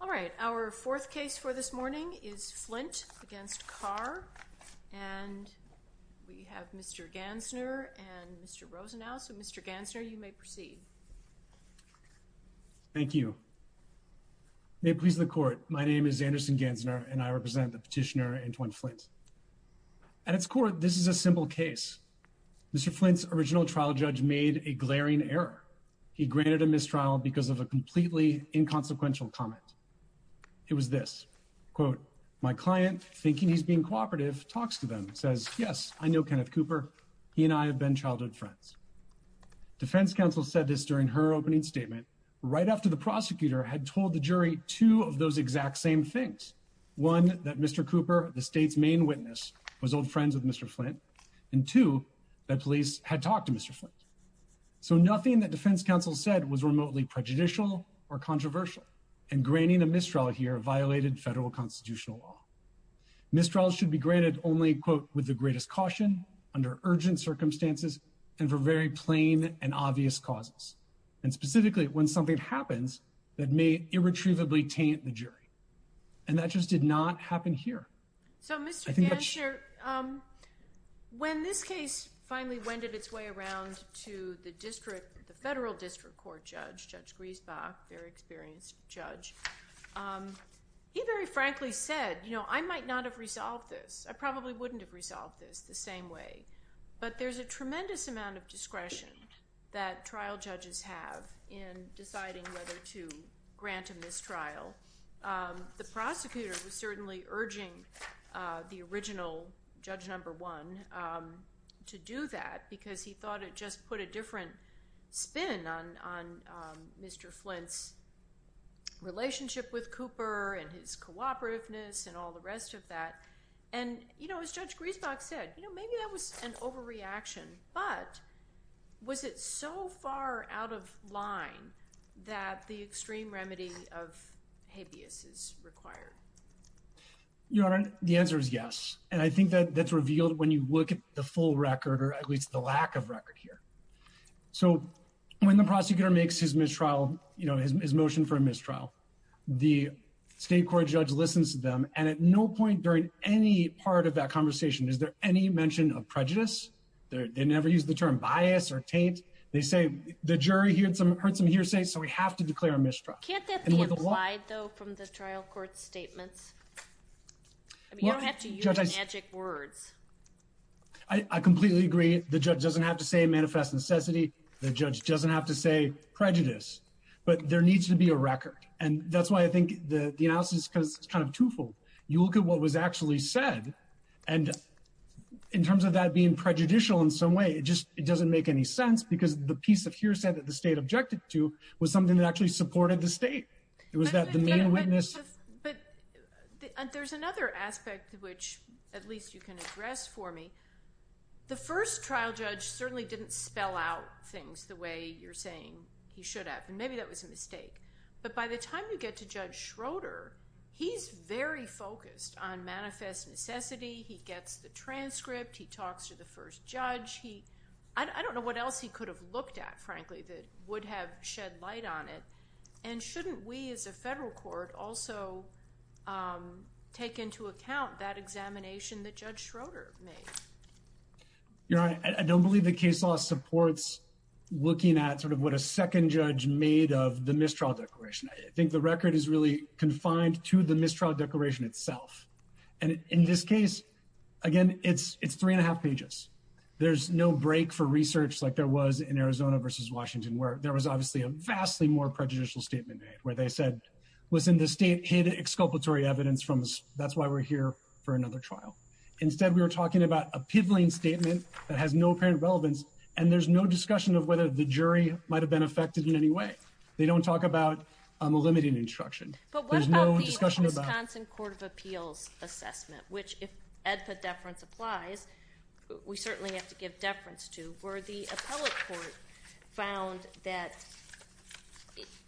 All right our fourth case for this morning is Flint against Carr and we have Mr. Gansner and Mr. Rosenau. So Mr. Gansner you may proceed. Thank you. May it please the court. My name is Anderson Gansner and I represent the petitioner Antwon Flint. At its core this is a simple case. Mr. Flint's original trial judge made a glaring error. He granted a mistrial because of a completely inconsequential comment. It was this quote my client thinking he's being cooperative talks to them says yes I know Kenneth Cooper. He and I have been childhood friends. Defense counsel said this during her opening statement right after the prosecutor had told the jury two of those exact same things. One that Mr. Cooper the state's main witness was old friends with Mr. Flint and two that police had talked to Mr. Flint. So nothing that defense counsel said was remotely prejudicial or controversial and granting a mistrial here violated federal constitutional law. Mistrial should be granted only quote with the greatest caution under urgent circumstances and for very plain and obvious causes. And specifically when something happens that may irretrievably taint the jury. And that just did not happen here. So Mr. Gansner when this case finally wended its way around to the district the federal district court judge Judge Griesbach very experienced judge. He very frankly said you know I might not have resolved this. I probably wouldn't have resolved this the same way. But there's a tremendous amount of discretion that trial judges have in deciding whether to grant a mistrial. The prosecutor was certainly urging the original judge number one to do that because he thought it just put a different spin on Mr. Flint's relationship with Cooper and his cooperativeness and all the rest of that. And you know as Judge Griesbach said you know maybe that was an overreaction. But was it so far out of line that the extreme remedy of habeas is required. Your Honor the answer is yes. And I think that that's revealed when you look at the full record or at least the lack of record here. So when the prosecutor makes his mistrial you know his motion for a mistrial the state court judge listens to them and at no point during any part of that conversation is there any mention of prejudice. They never use the term bias or taint. They say the jury heard some heard some hearsay so we have to declare a mistrial. Can't that be implied though from the trial court statements. You don't have to use magic words. I completely agree. The judge doesn't have to say manifest necessity. The judge doesn't have to say prejudice but there needs to be a record. And that's why I think the analysis is kind of twofold. You look at what was actually said and in terms of that being prejudicial in some way it just it doesn't make any sense because the piece of hearsay that the state objected to was something that actually supported the state. Was that the main witness. But there's another aspect of which at least you can address for me. The first trial judge certainly didn't spell out things the way you're saying he should have and maybe that was a mistake. But by the time you get to Judge Schroeder he's very focused on manifest necessity. He gets the transcript. He talks to the first judge. He I don't know what else he could have looked at frankly that would have shed light on it. And shouldn't we as a federal court also take into account that examination that Judge Schroeder made. I don't believe the case law supports looking at sort of what a second judge made of the mistrial declaration. I think the record is really confined to the mistrial declaration itself. And in this case again it's it's three and a half pages. There's no break for research like there was in Arizona versus Washington where there was obviously a vastly more prejudicial statement made where they said was in the state hid exculpatory evidence from us. That's why we're here for another trial. Instead we were talking about a pivoting statement that has no apparent relevance and there's no discussion of whether the jury might have been affected in any way. They don't talk about a limiting instruction. But what about the Wisconsin Court of Appeals assessment which if EDPA deference applies we certainly have to give deference to where the appellate court found that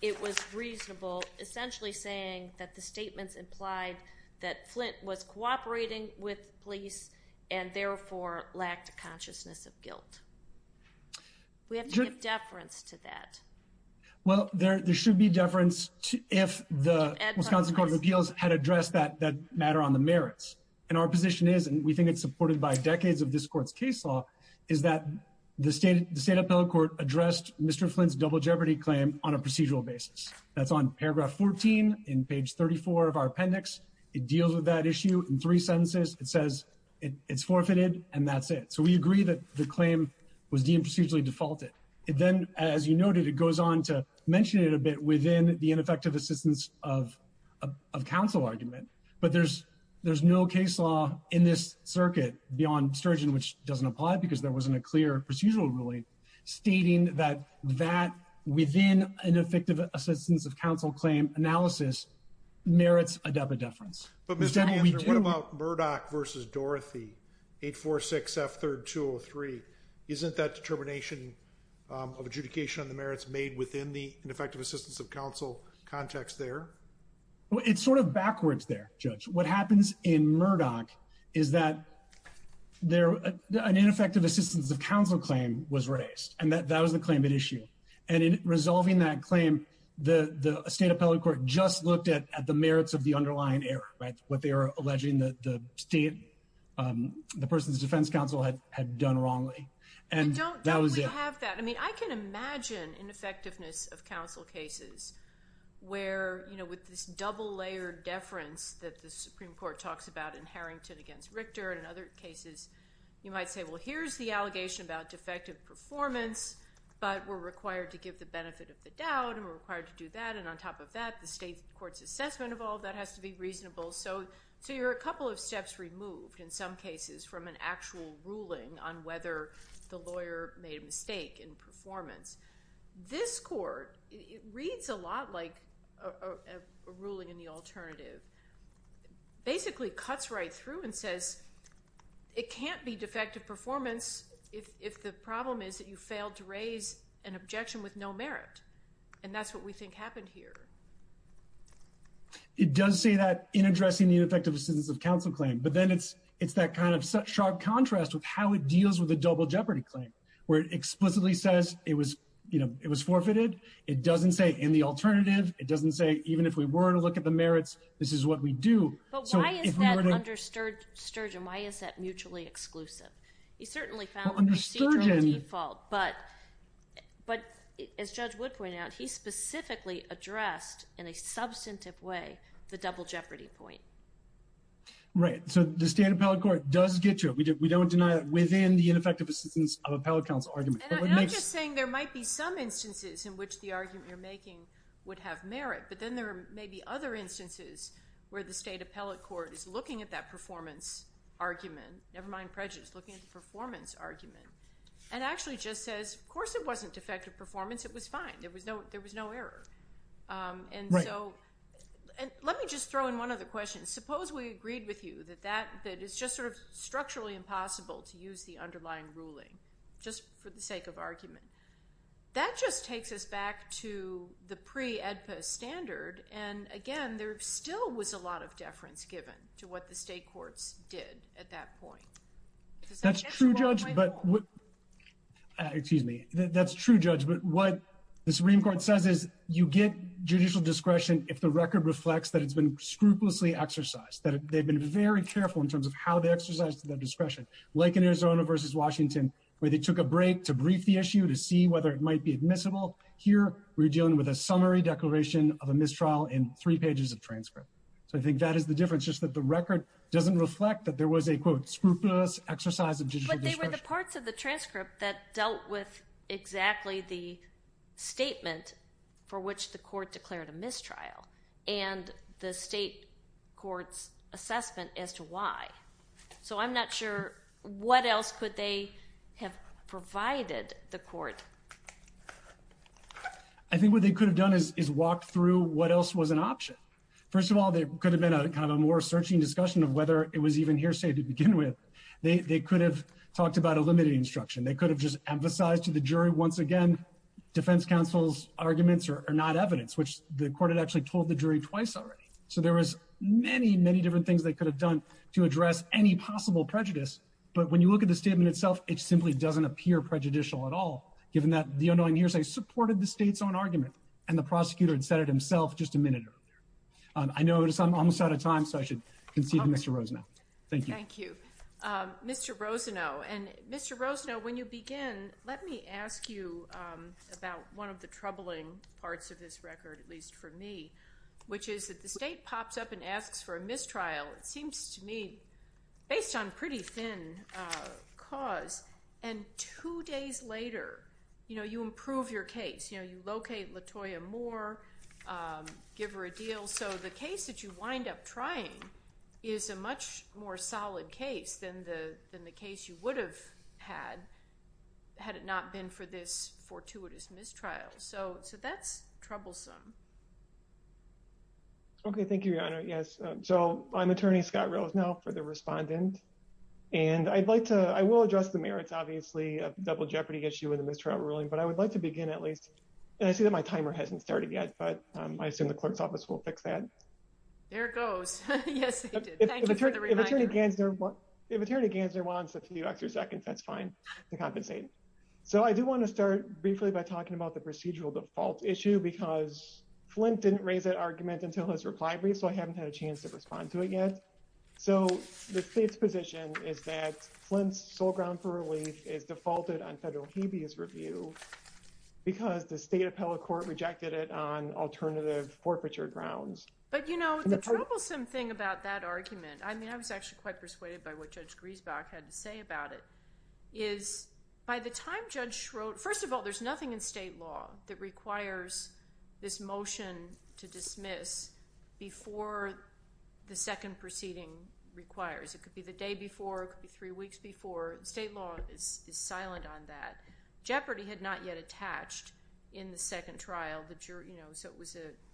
it was reasonable essentially saying that the statements implied that Flint was cooperating with police and therefore lacked a consciousness of guilt. We have to give deference to that. Well there should be deference to if the Wisconsin Court of Appeals had addressed that that matter on the merits and our position is and we think it's supported by decades of this court's case law is that the state the state appellate court addressed Mr. And then as you noted it goes on to mention it a bit within the ineffective assistance of of counsel argument. But there's there's no case law in this circuit beyond sturgeon which doesn't apply because there wasn't a clear procedural ruling stating that that within an effective assistance of counsel claim analysis merits EDPA deference. But what about Murdoch versus Dorothy eight four six F third two or three. Isn't that determination of adjudication on the merits made within the effective assistance of counsel context there. It's sort of backwards there. Judge what happens in Murdoch is that they're an ineffective assistance of counsel claim was raised and that that was the claim at issue and in resolving that claim the state appellate court just looked at the merits of the underlying error. Right. What they are alleging that the state the person's defense counsel had done wrongly and don't have that. I mean I can imagine ineffectiveness of counsel cases where you know with this double layered deference that the Supreme Court talks about in Harrington against Richter and other cases you might say well here's the allegation about defective performance but we're required to give the benefit of the doubt and we're required to do that and on top of that the state court's assessment of all that has to be reasonable. So so you're a couple of steps removed in some cases from an actual ruling on whether the lawyer made a mistake in performance. This court reads a lot like a ruling in the alternative basically cuts right through and says it can't be defective performance if the problem is that you failed to raise an objection with no merit. And that's what we think happened here. It does say that in addressing the ineffectiveness of counsel claim but then it's it's that kind of sharp contrast with how it deals with a double jeopardy claim where it explicitly says it was you know it was forfeited. It doesn't say in the alternative. It doesn't say even if we were to look at the merits. This is what we do. But why is that under Sturgeon? Why is that mutually exclusive? He certainly found the procedural default but but as Judge Wood pointed out he specifically addressed in a substantive way the double jeopardy point. Right. So the state appellate court does get to it. We don't deny that within the ineffective assistance of appellate counsel argument. And I'm just saying there might be some instances in which the argument you're making would have merit but then there may be other instances where the state appellate court is looking at that performance argument, never mind prejudice, looking at the performance argument and actually just says of course it wasn't defective performance. It was fine. There was no there was no error. And so let me just throw in one other question. Suppose we agreed with you that that that is just sort of structurally impossible to use the underlying ruling just for the sake of argument. That just takes us back to the pre-EDPA standard and again there still was a lot of deference given to what the state courts did at that point. That's true, Judge. But what, excuse me, that's true, Judge. But what the Supreme Court says is you get judicial discretion if the record reflects that it's been scrupulously exercised, that they've been very careful in terms of how they exercise their discretion. Like in Arizona versus Washington where they took a break to brief the issue to see whether it might be admissible. Here we're dealing with a summary declaration of a mistrial in three pages of transcript. So I think that is the difference, just that the record doesn't reflect that there was a, quote, scrupulous exercise of judicial discretion. But they were the parts of the transcript that dealt with exactly the statement for which the court declared a mistrial and the state court's assessment as to why. So I'm not sure what else could they have provided the court. I think what they could have done is walk through what else was an option. First of all, there could have been a kind of a more searching discussion of whether it was even hearsay to begin with. They could have talked about a limited instruction. They could have just emphasized to the jury once again, defense counsel's arguments are not evidence, which the court had actually told the jury twice already. So there was many, many different things they could have done to address any possible prejudice. But when you look at the statement itself, it simply doesn't appear prejudicial at all. Given that the unknowing hearsay supported the state's own argument and the prosecutor had said it himself just a minute earlier. I notice I'm almost out of time, so I should concede to Mr. Rosenau. Thank you. Mr. Rosenau, when you begin, let me ask you about one of the troubling parts of this record, at least for me, which is that the state pops up and asks for a mistrial. It seems to me, based on pretty thin cause, and two days later, you improve your case. You locate Latoya Moore, give her a deal. So the case that you wind up trying is a much more solid case than the case you would have had, had it not been for this fortuitous mistrial. So that's troublesome. Okay, thank you, Your Honor. Yes. So I'm attorney Scott Rosenau for the respondent. And I'd like to, I will address the merits, obviously, of the double jeopardy issue in the mistrial ruling, but I would like to begin at least. And I see that my timer hasn't started yet, but I assume the clerk's office will fix that. There it goes. Yes, thank you for the reminder. If attorney Gansner wants a few extra seconds, that's fine to compensate. So I do want to start briefly by talking about the procedural default issue because Flint didn't raise that argument until his reply brief, so I haven't had a chance to respond to it yet. So the state's position is that Flint's sole ground for relief is defaulted on federal habeas review because the state appellate court rejected it on alternative forfeiture grounds. But you know, the troublesome thing about that argument, I mean, I was actually quite persuaded by what Judge Griesbach had to say about it, is by the time Judge Schroeder, first of all, there's nothing in state law that requires this motion to dismiss before the second proceeding requires. It could be the day before, it could be three weeks before. State law is silent on that. Jeopardy had not yet attached in the second trial, so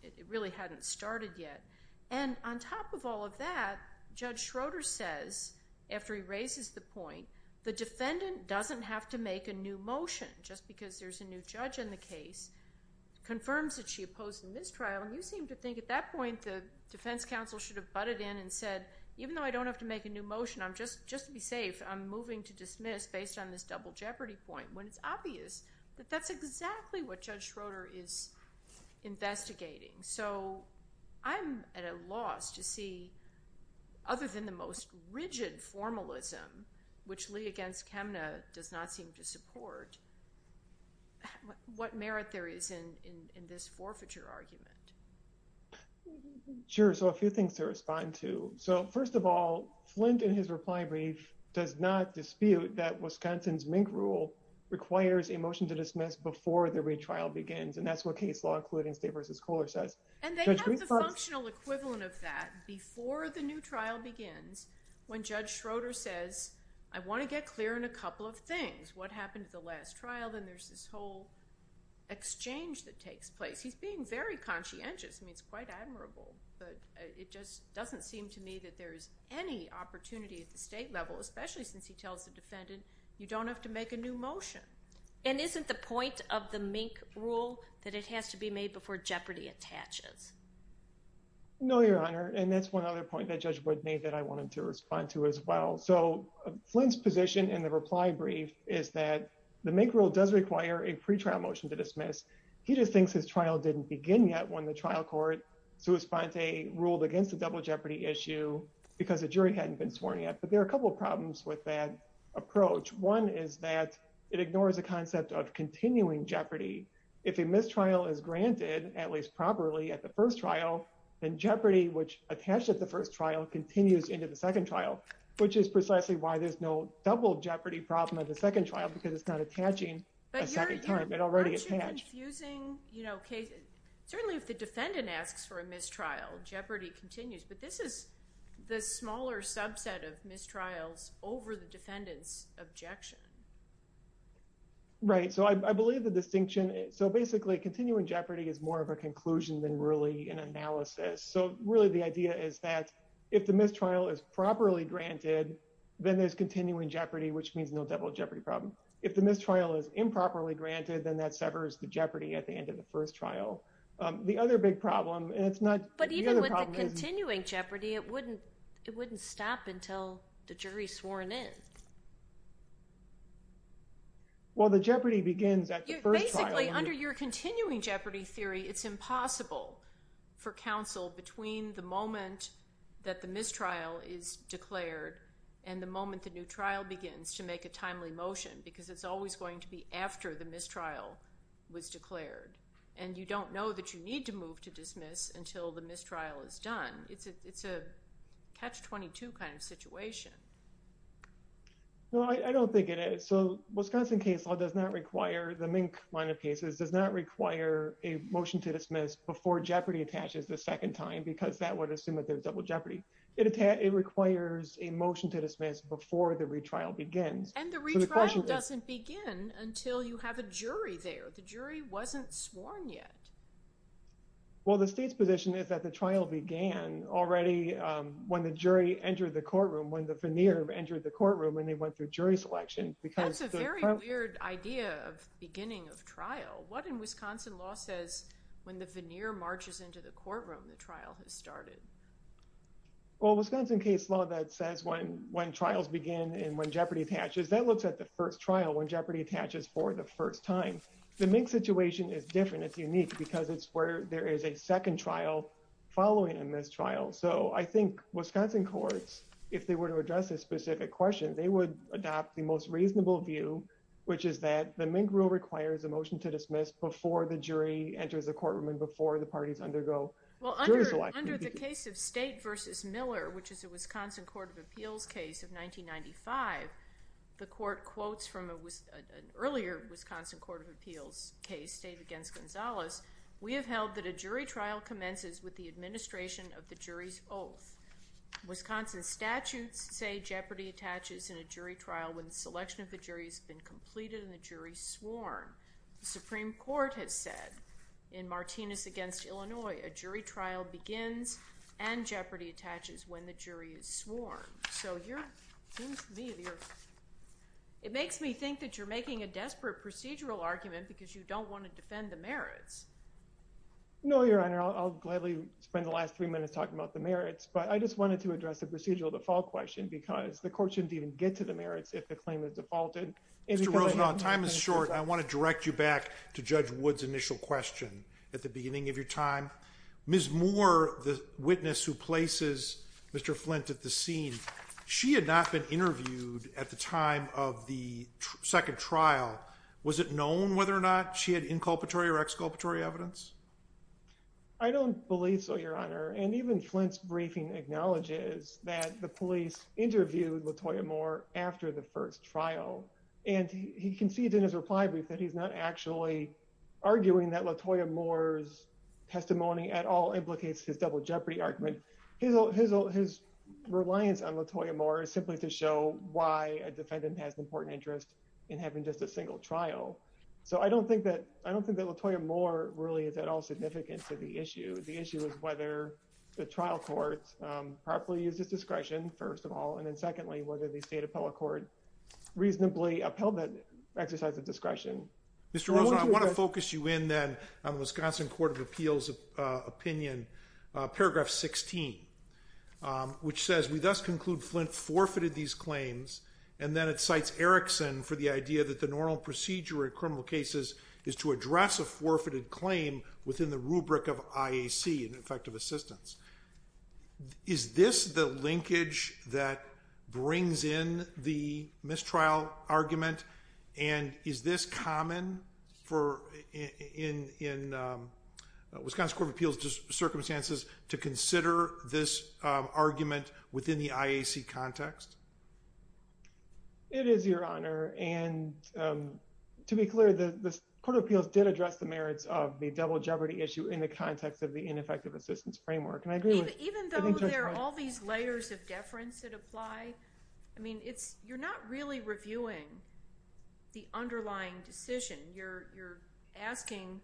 it really hadn't started yet. And on top of all of that, Judge Schroeder says, after he raises the point, the defendant doesn't have to make a new motion just because there's a new judge in the case. Confirms that she opposed the mistrial, and you seem to think at that point the defense counsel should have butted in and said, even though I don't have to make a new motion, just to be safe, I'm moving to dismiss based on this double jeopardy point, when it's obvious that that's exactly what Judge Schroeder is investigating. So I'm at a loss to see, other than the most rigid formalism, which Lee against Kemna does not seem to support, what merit there is in this forfeiture argument. Sure. So a few things to respond to. So first of all, Flint, in his reply brief, does not dispute that Wisconsin's Mink Rule requires a motion to dismiss before the retrial begins. And that's what case law, including State v. Kohler, says. And they have the functional equivalent of that before the new trial begins, when Judge Schroeder says, I want to get clear on a couple of things. What happened at the last trial? Then there's this whole exchange that takes place. He's being very conscientious. I mean, it's quite admirable, but it just doesn't seem to me that there is any opportunity at the state level, especially since he tells the defendant, you don't have to make a new motion. And isn't the point of the Mink Rule that it has to be made before jeopardy attaches? No, Your Honor. And that's one other point that Judge Wood made that I wanted to respond to as well. So Flint's position in the reply brief is that the Mink Rule does require a pretrial motion to dismiss. He just thinks his trial didn't begin yet when the trial court, Sue Esponte, ruled against the double jeopardy issue because the jury hadn't been sworn yet. But there are a couple of problems with that approach. One is that it ignores the concept of continuing jeopardy. If a mistrial is granted, at least properly, at the first trial, then jeopardy, which attached at the first trial, continues into the second trial, which is precisely why there's no double jeopardy problem at the second trial because it's not attaching a second time. It already attached. But aren't you confusing cases? Certainly if the defendant asks for a mistrial, jeopardy continues. But this is the smaller subset of mistrials over the defendant's objection. Right. So I believe the distinction. So basically, continuing jeopardy is more of a conclusion than really an analysis. So really, the idea is that if the mistrial is properly granted, then there's continuing jeopardy, which means no double jeopardy problem. If the mistrial is improperly granted, then that severs the jeopardy at the end of the first trial. But even with the continuing jeopardy, it wouldn't stop until the jury's sworn in. Well, the jeopardy begins at the first trial. Basically, under your continuing jeopardy theory, it's impossible for counsel between the moment that the mistrial is declared and the moment the new trial begins to make a timely motion because it's always going to be after the mistrial was declared. And you don't know that you need to move to dismiss until the mistrial is done. It's a catch-22 kind of situation. Well, I don't think it is. So Wisconsin case law does not require, the Mink line of cases does not require a motion to dismiss before jeopardy attaches the second time because that would assume that there's double jeopardy. It requires a motion to dismiss before the retrial begins. And the retrial doesn't begin until you have a jury there. But the jury wasn't sworn yet. Well, the state's position is that the trial began already when the jury entered the courtroom, when the veneer entered the courtroom and they went through jury selection. That's a very weird idea of beginning of trial. What in Wisconsin law says when the veneer marches into the courtroom, the trial has started? Well, Wisconsin case law that says when trials begin and when jeopardy attaches, that looks at the first trial when jeopardy attaches for the first time. The Mink situation is different. It's unique because it's where there is a second trial following a mistrial. So I think Wisconsin courts, if they were to address this specific question, they would adopt the most reasonable view, which is that the Mink rule requires a motion to dismiss before the jury enters the courtroom and before the parties undergo jury selection. Well, under the case of State v. Miller, which is a Wisconsin Court of Appeals case of 1995, the court quotes from an earlier Wisconsin Court of Appeals case, State v. Gonzalez, we have held that a jury trial commences with the administration of the jury's oath. Wisconsin statutes say jeopardy attaches in a jury trial when the selection of the jury has been completed and the jury sworn. The Supreme Court has said in Martinez v. Illinois, a jury trial begins and jeopardy attaches when the jury is sworn. So it makes me think that you're making a desperate procedural argument because you don't want to defend the merits. No, Your Honor. I'll gladly spend the last three minutes talking about the merits, but I just wanted to address the procedural default question because the court shouldn't even get to the merits if the claim is defaulted. Mr. Rosenbaum, time is short. I want to direct you back to Judge Wood's initial question at the beginning of your time. Ms. Moore, the witness who places Mr. Flint at the scene, she had not been interviewed at the time of the second trial. Was it known whether or not she had inculpatory or exculpatory evidence? I don't believe so, Your Honor. And even Flint's briefing acknowledges that the police interviewed Latoya Moore after the first trial, and he conceded in his reply brief that he's not actually arguing that Latoya Moore's testimony at all implicates his double jeopardy argument. His reliance on Latoya Moore is simply to show why a defendant has an important interest in having just a single trial. So I don't think that Latoya Moore really is at all significant to the issue. The issue is whether the trial court properly uses discretion, first of all, and then secondly, whether the state appellate court reasonably upheld that exercise of discretion. Mr. Rosenbaum, I want to focus you in then on the Wisconsin Court of Appeals' opinion, paragraph 16, which says, We thus conclude Flint forfeited these claims, and then it cites Erickson for the idea that the normal procedure in criminal cases is to address a forfeited claim within the rubric of IAC, an effective assistance. Is this the linkage that brings in the mistrial argument, and is this common in Wisconsin Court of Appeals' circumstances to consider this argument within the IAC context? It is, Your Honor. And to be clear, the Court of Appeals did address the merits of the double jeopardy issue in the context of the ineffective assistance framework. And I agree with the defense. Even though there are all these layers of deference that apply, I mean, you're not really reviewing the underlying decision. You're asking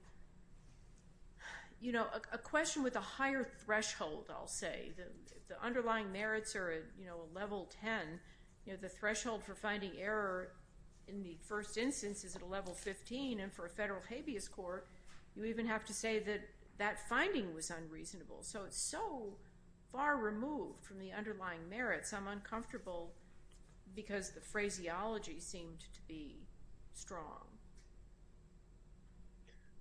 a question with a higher threshold, I'll say. The underlying merits are, you know, a level 10. You know, the threshold for finding error in the first instance is at a level 15, and for a federal habeas court, you even have to say that that finding was unreasonable. So it's so far removed from the underlying merits, I'm uncomfortable because the phraseology seemed to be strong.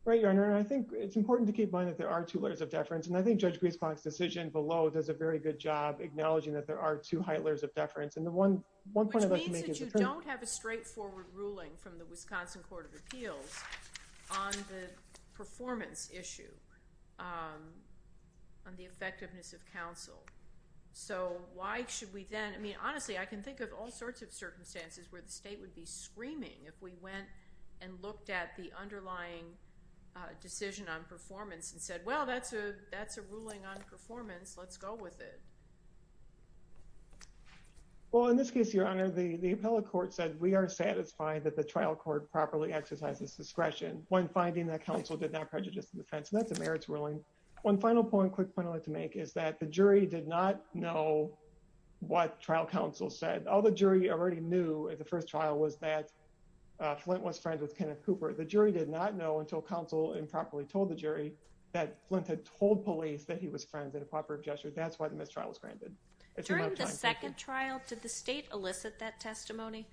Right, Your Honor, and I think it's important to keep in mind that there are two layers of deference, and I think Judge Griesbach's decision below does a very good job acknowledging that there are two Heitler's of deference. And the one point I'd like to make is that— Which means that you don't have a straightforward ruling from the Wisconsin Court of Appeals on the performance issue, on the effectiveness of counsel. So why should we then—I mean, honestly, I can think of all sorts of circumstances where the state would be screaming if we went and looked at the underlying decision on performance and said, well, that's a ruling on performance, let's go with it. Well, in this case, Your Honor, the appellate court said we are satisfied that the trial court properly exercises discretion when finding that counsel did not prejudice the defense, and that's a merits ruling. One final point, quick point I'd like to make, is that the jury did not know what trial counsel said. All the jury already knew at the first trial was that Flint was friends with Kenneth Cooper. The jury did not know until counsel improperly told the jury that Flint had told police that he was friends in a cooperative gesture. That's why the mistrial was granted. During the second trial, did the state elicit that testimony?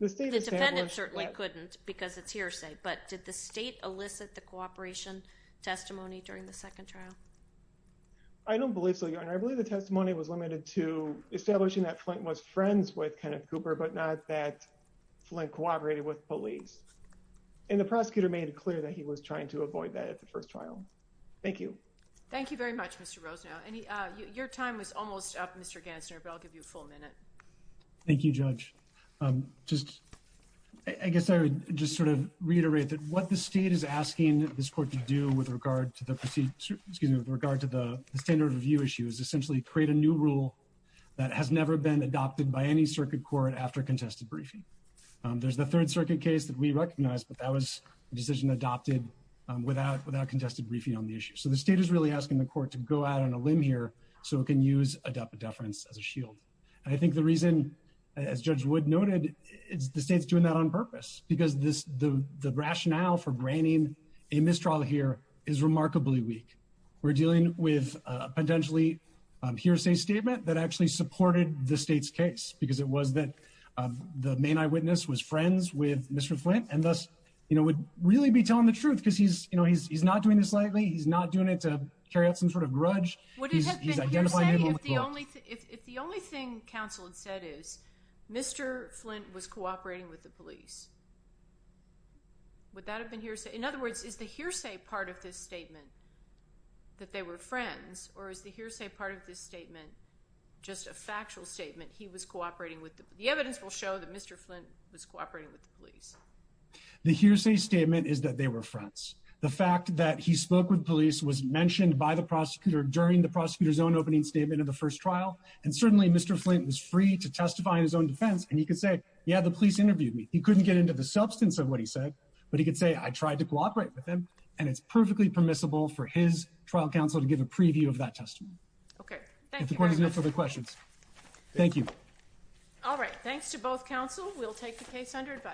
The defendant certainly couldn't because it's hearsay, but did the state elicit the cooperation testimony during the second trial? I don't believe so, Your Honor. I believe the testimony was limited to establishing that Flint was friends with Kenneth Cooper, but not that Flint cooperated with police. And the prosecutor made it clear that he was trying to avoid that at the first trial. Thank you. Thank you very much, Mr. Rosenau. Your time is almost up, Mr. Gansner, but I'll give you a full minute. Thank you, Judge. I guess I would just sort of reiterate that what the state is asking this court to do with regard to the standard review issue is essentially create a new rule that has never been adopted by any circuit court after contested briefing. There's the Third Circuit case that we recognize, but that was a decision adopted without contested briefing on the issue. So the state is really asking the court to go out on a limb here so it can use a deference as a shield. And I think the reason, as Judge Wood noted, is the state's doing that on purpose, because the rationale for granting a mistrial here is remarkably weak. We're dealing with a potentially hearsay statement that actually supported the state's case, because it was that the main eyewitness was friends with Mr. Flint, and thus would really be telling the truth because he's not doing this lightly. He's not doing it to carry out some sort of grudge. If the only thing counsel had said is Mr. Flint was cooperating with the police, would that have been hearsay? In other words, is the hearsay part of this statement that they were friends, or is the hearsay part of this statement just a factual statement he was cooperating with the police? The evidence will show that Mr. Flint was cooperating with the police. The hearsay statement is that they were friends. The fact that he spoke with police was mentioned by the prosecutor during the prosecutor's own opening statement of the first trial, and certainly Mr. Flint was free to testify in his own defense, and he could say, yeah, the police interviewed me. He couldn't get into the substance of what he said, but he could say, I tried to cooperate with him, and it's perfectly permissible for his trial counsel to give a preview of that testimony. Okay. Thank you very much. If the court has no further questions. Thank you. All right. Thanks to both counsel. We'll take the case under advice.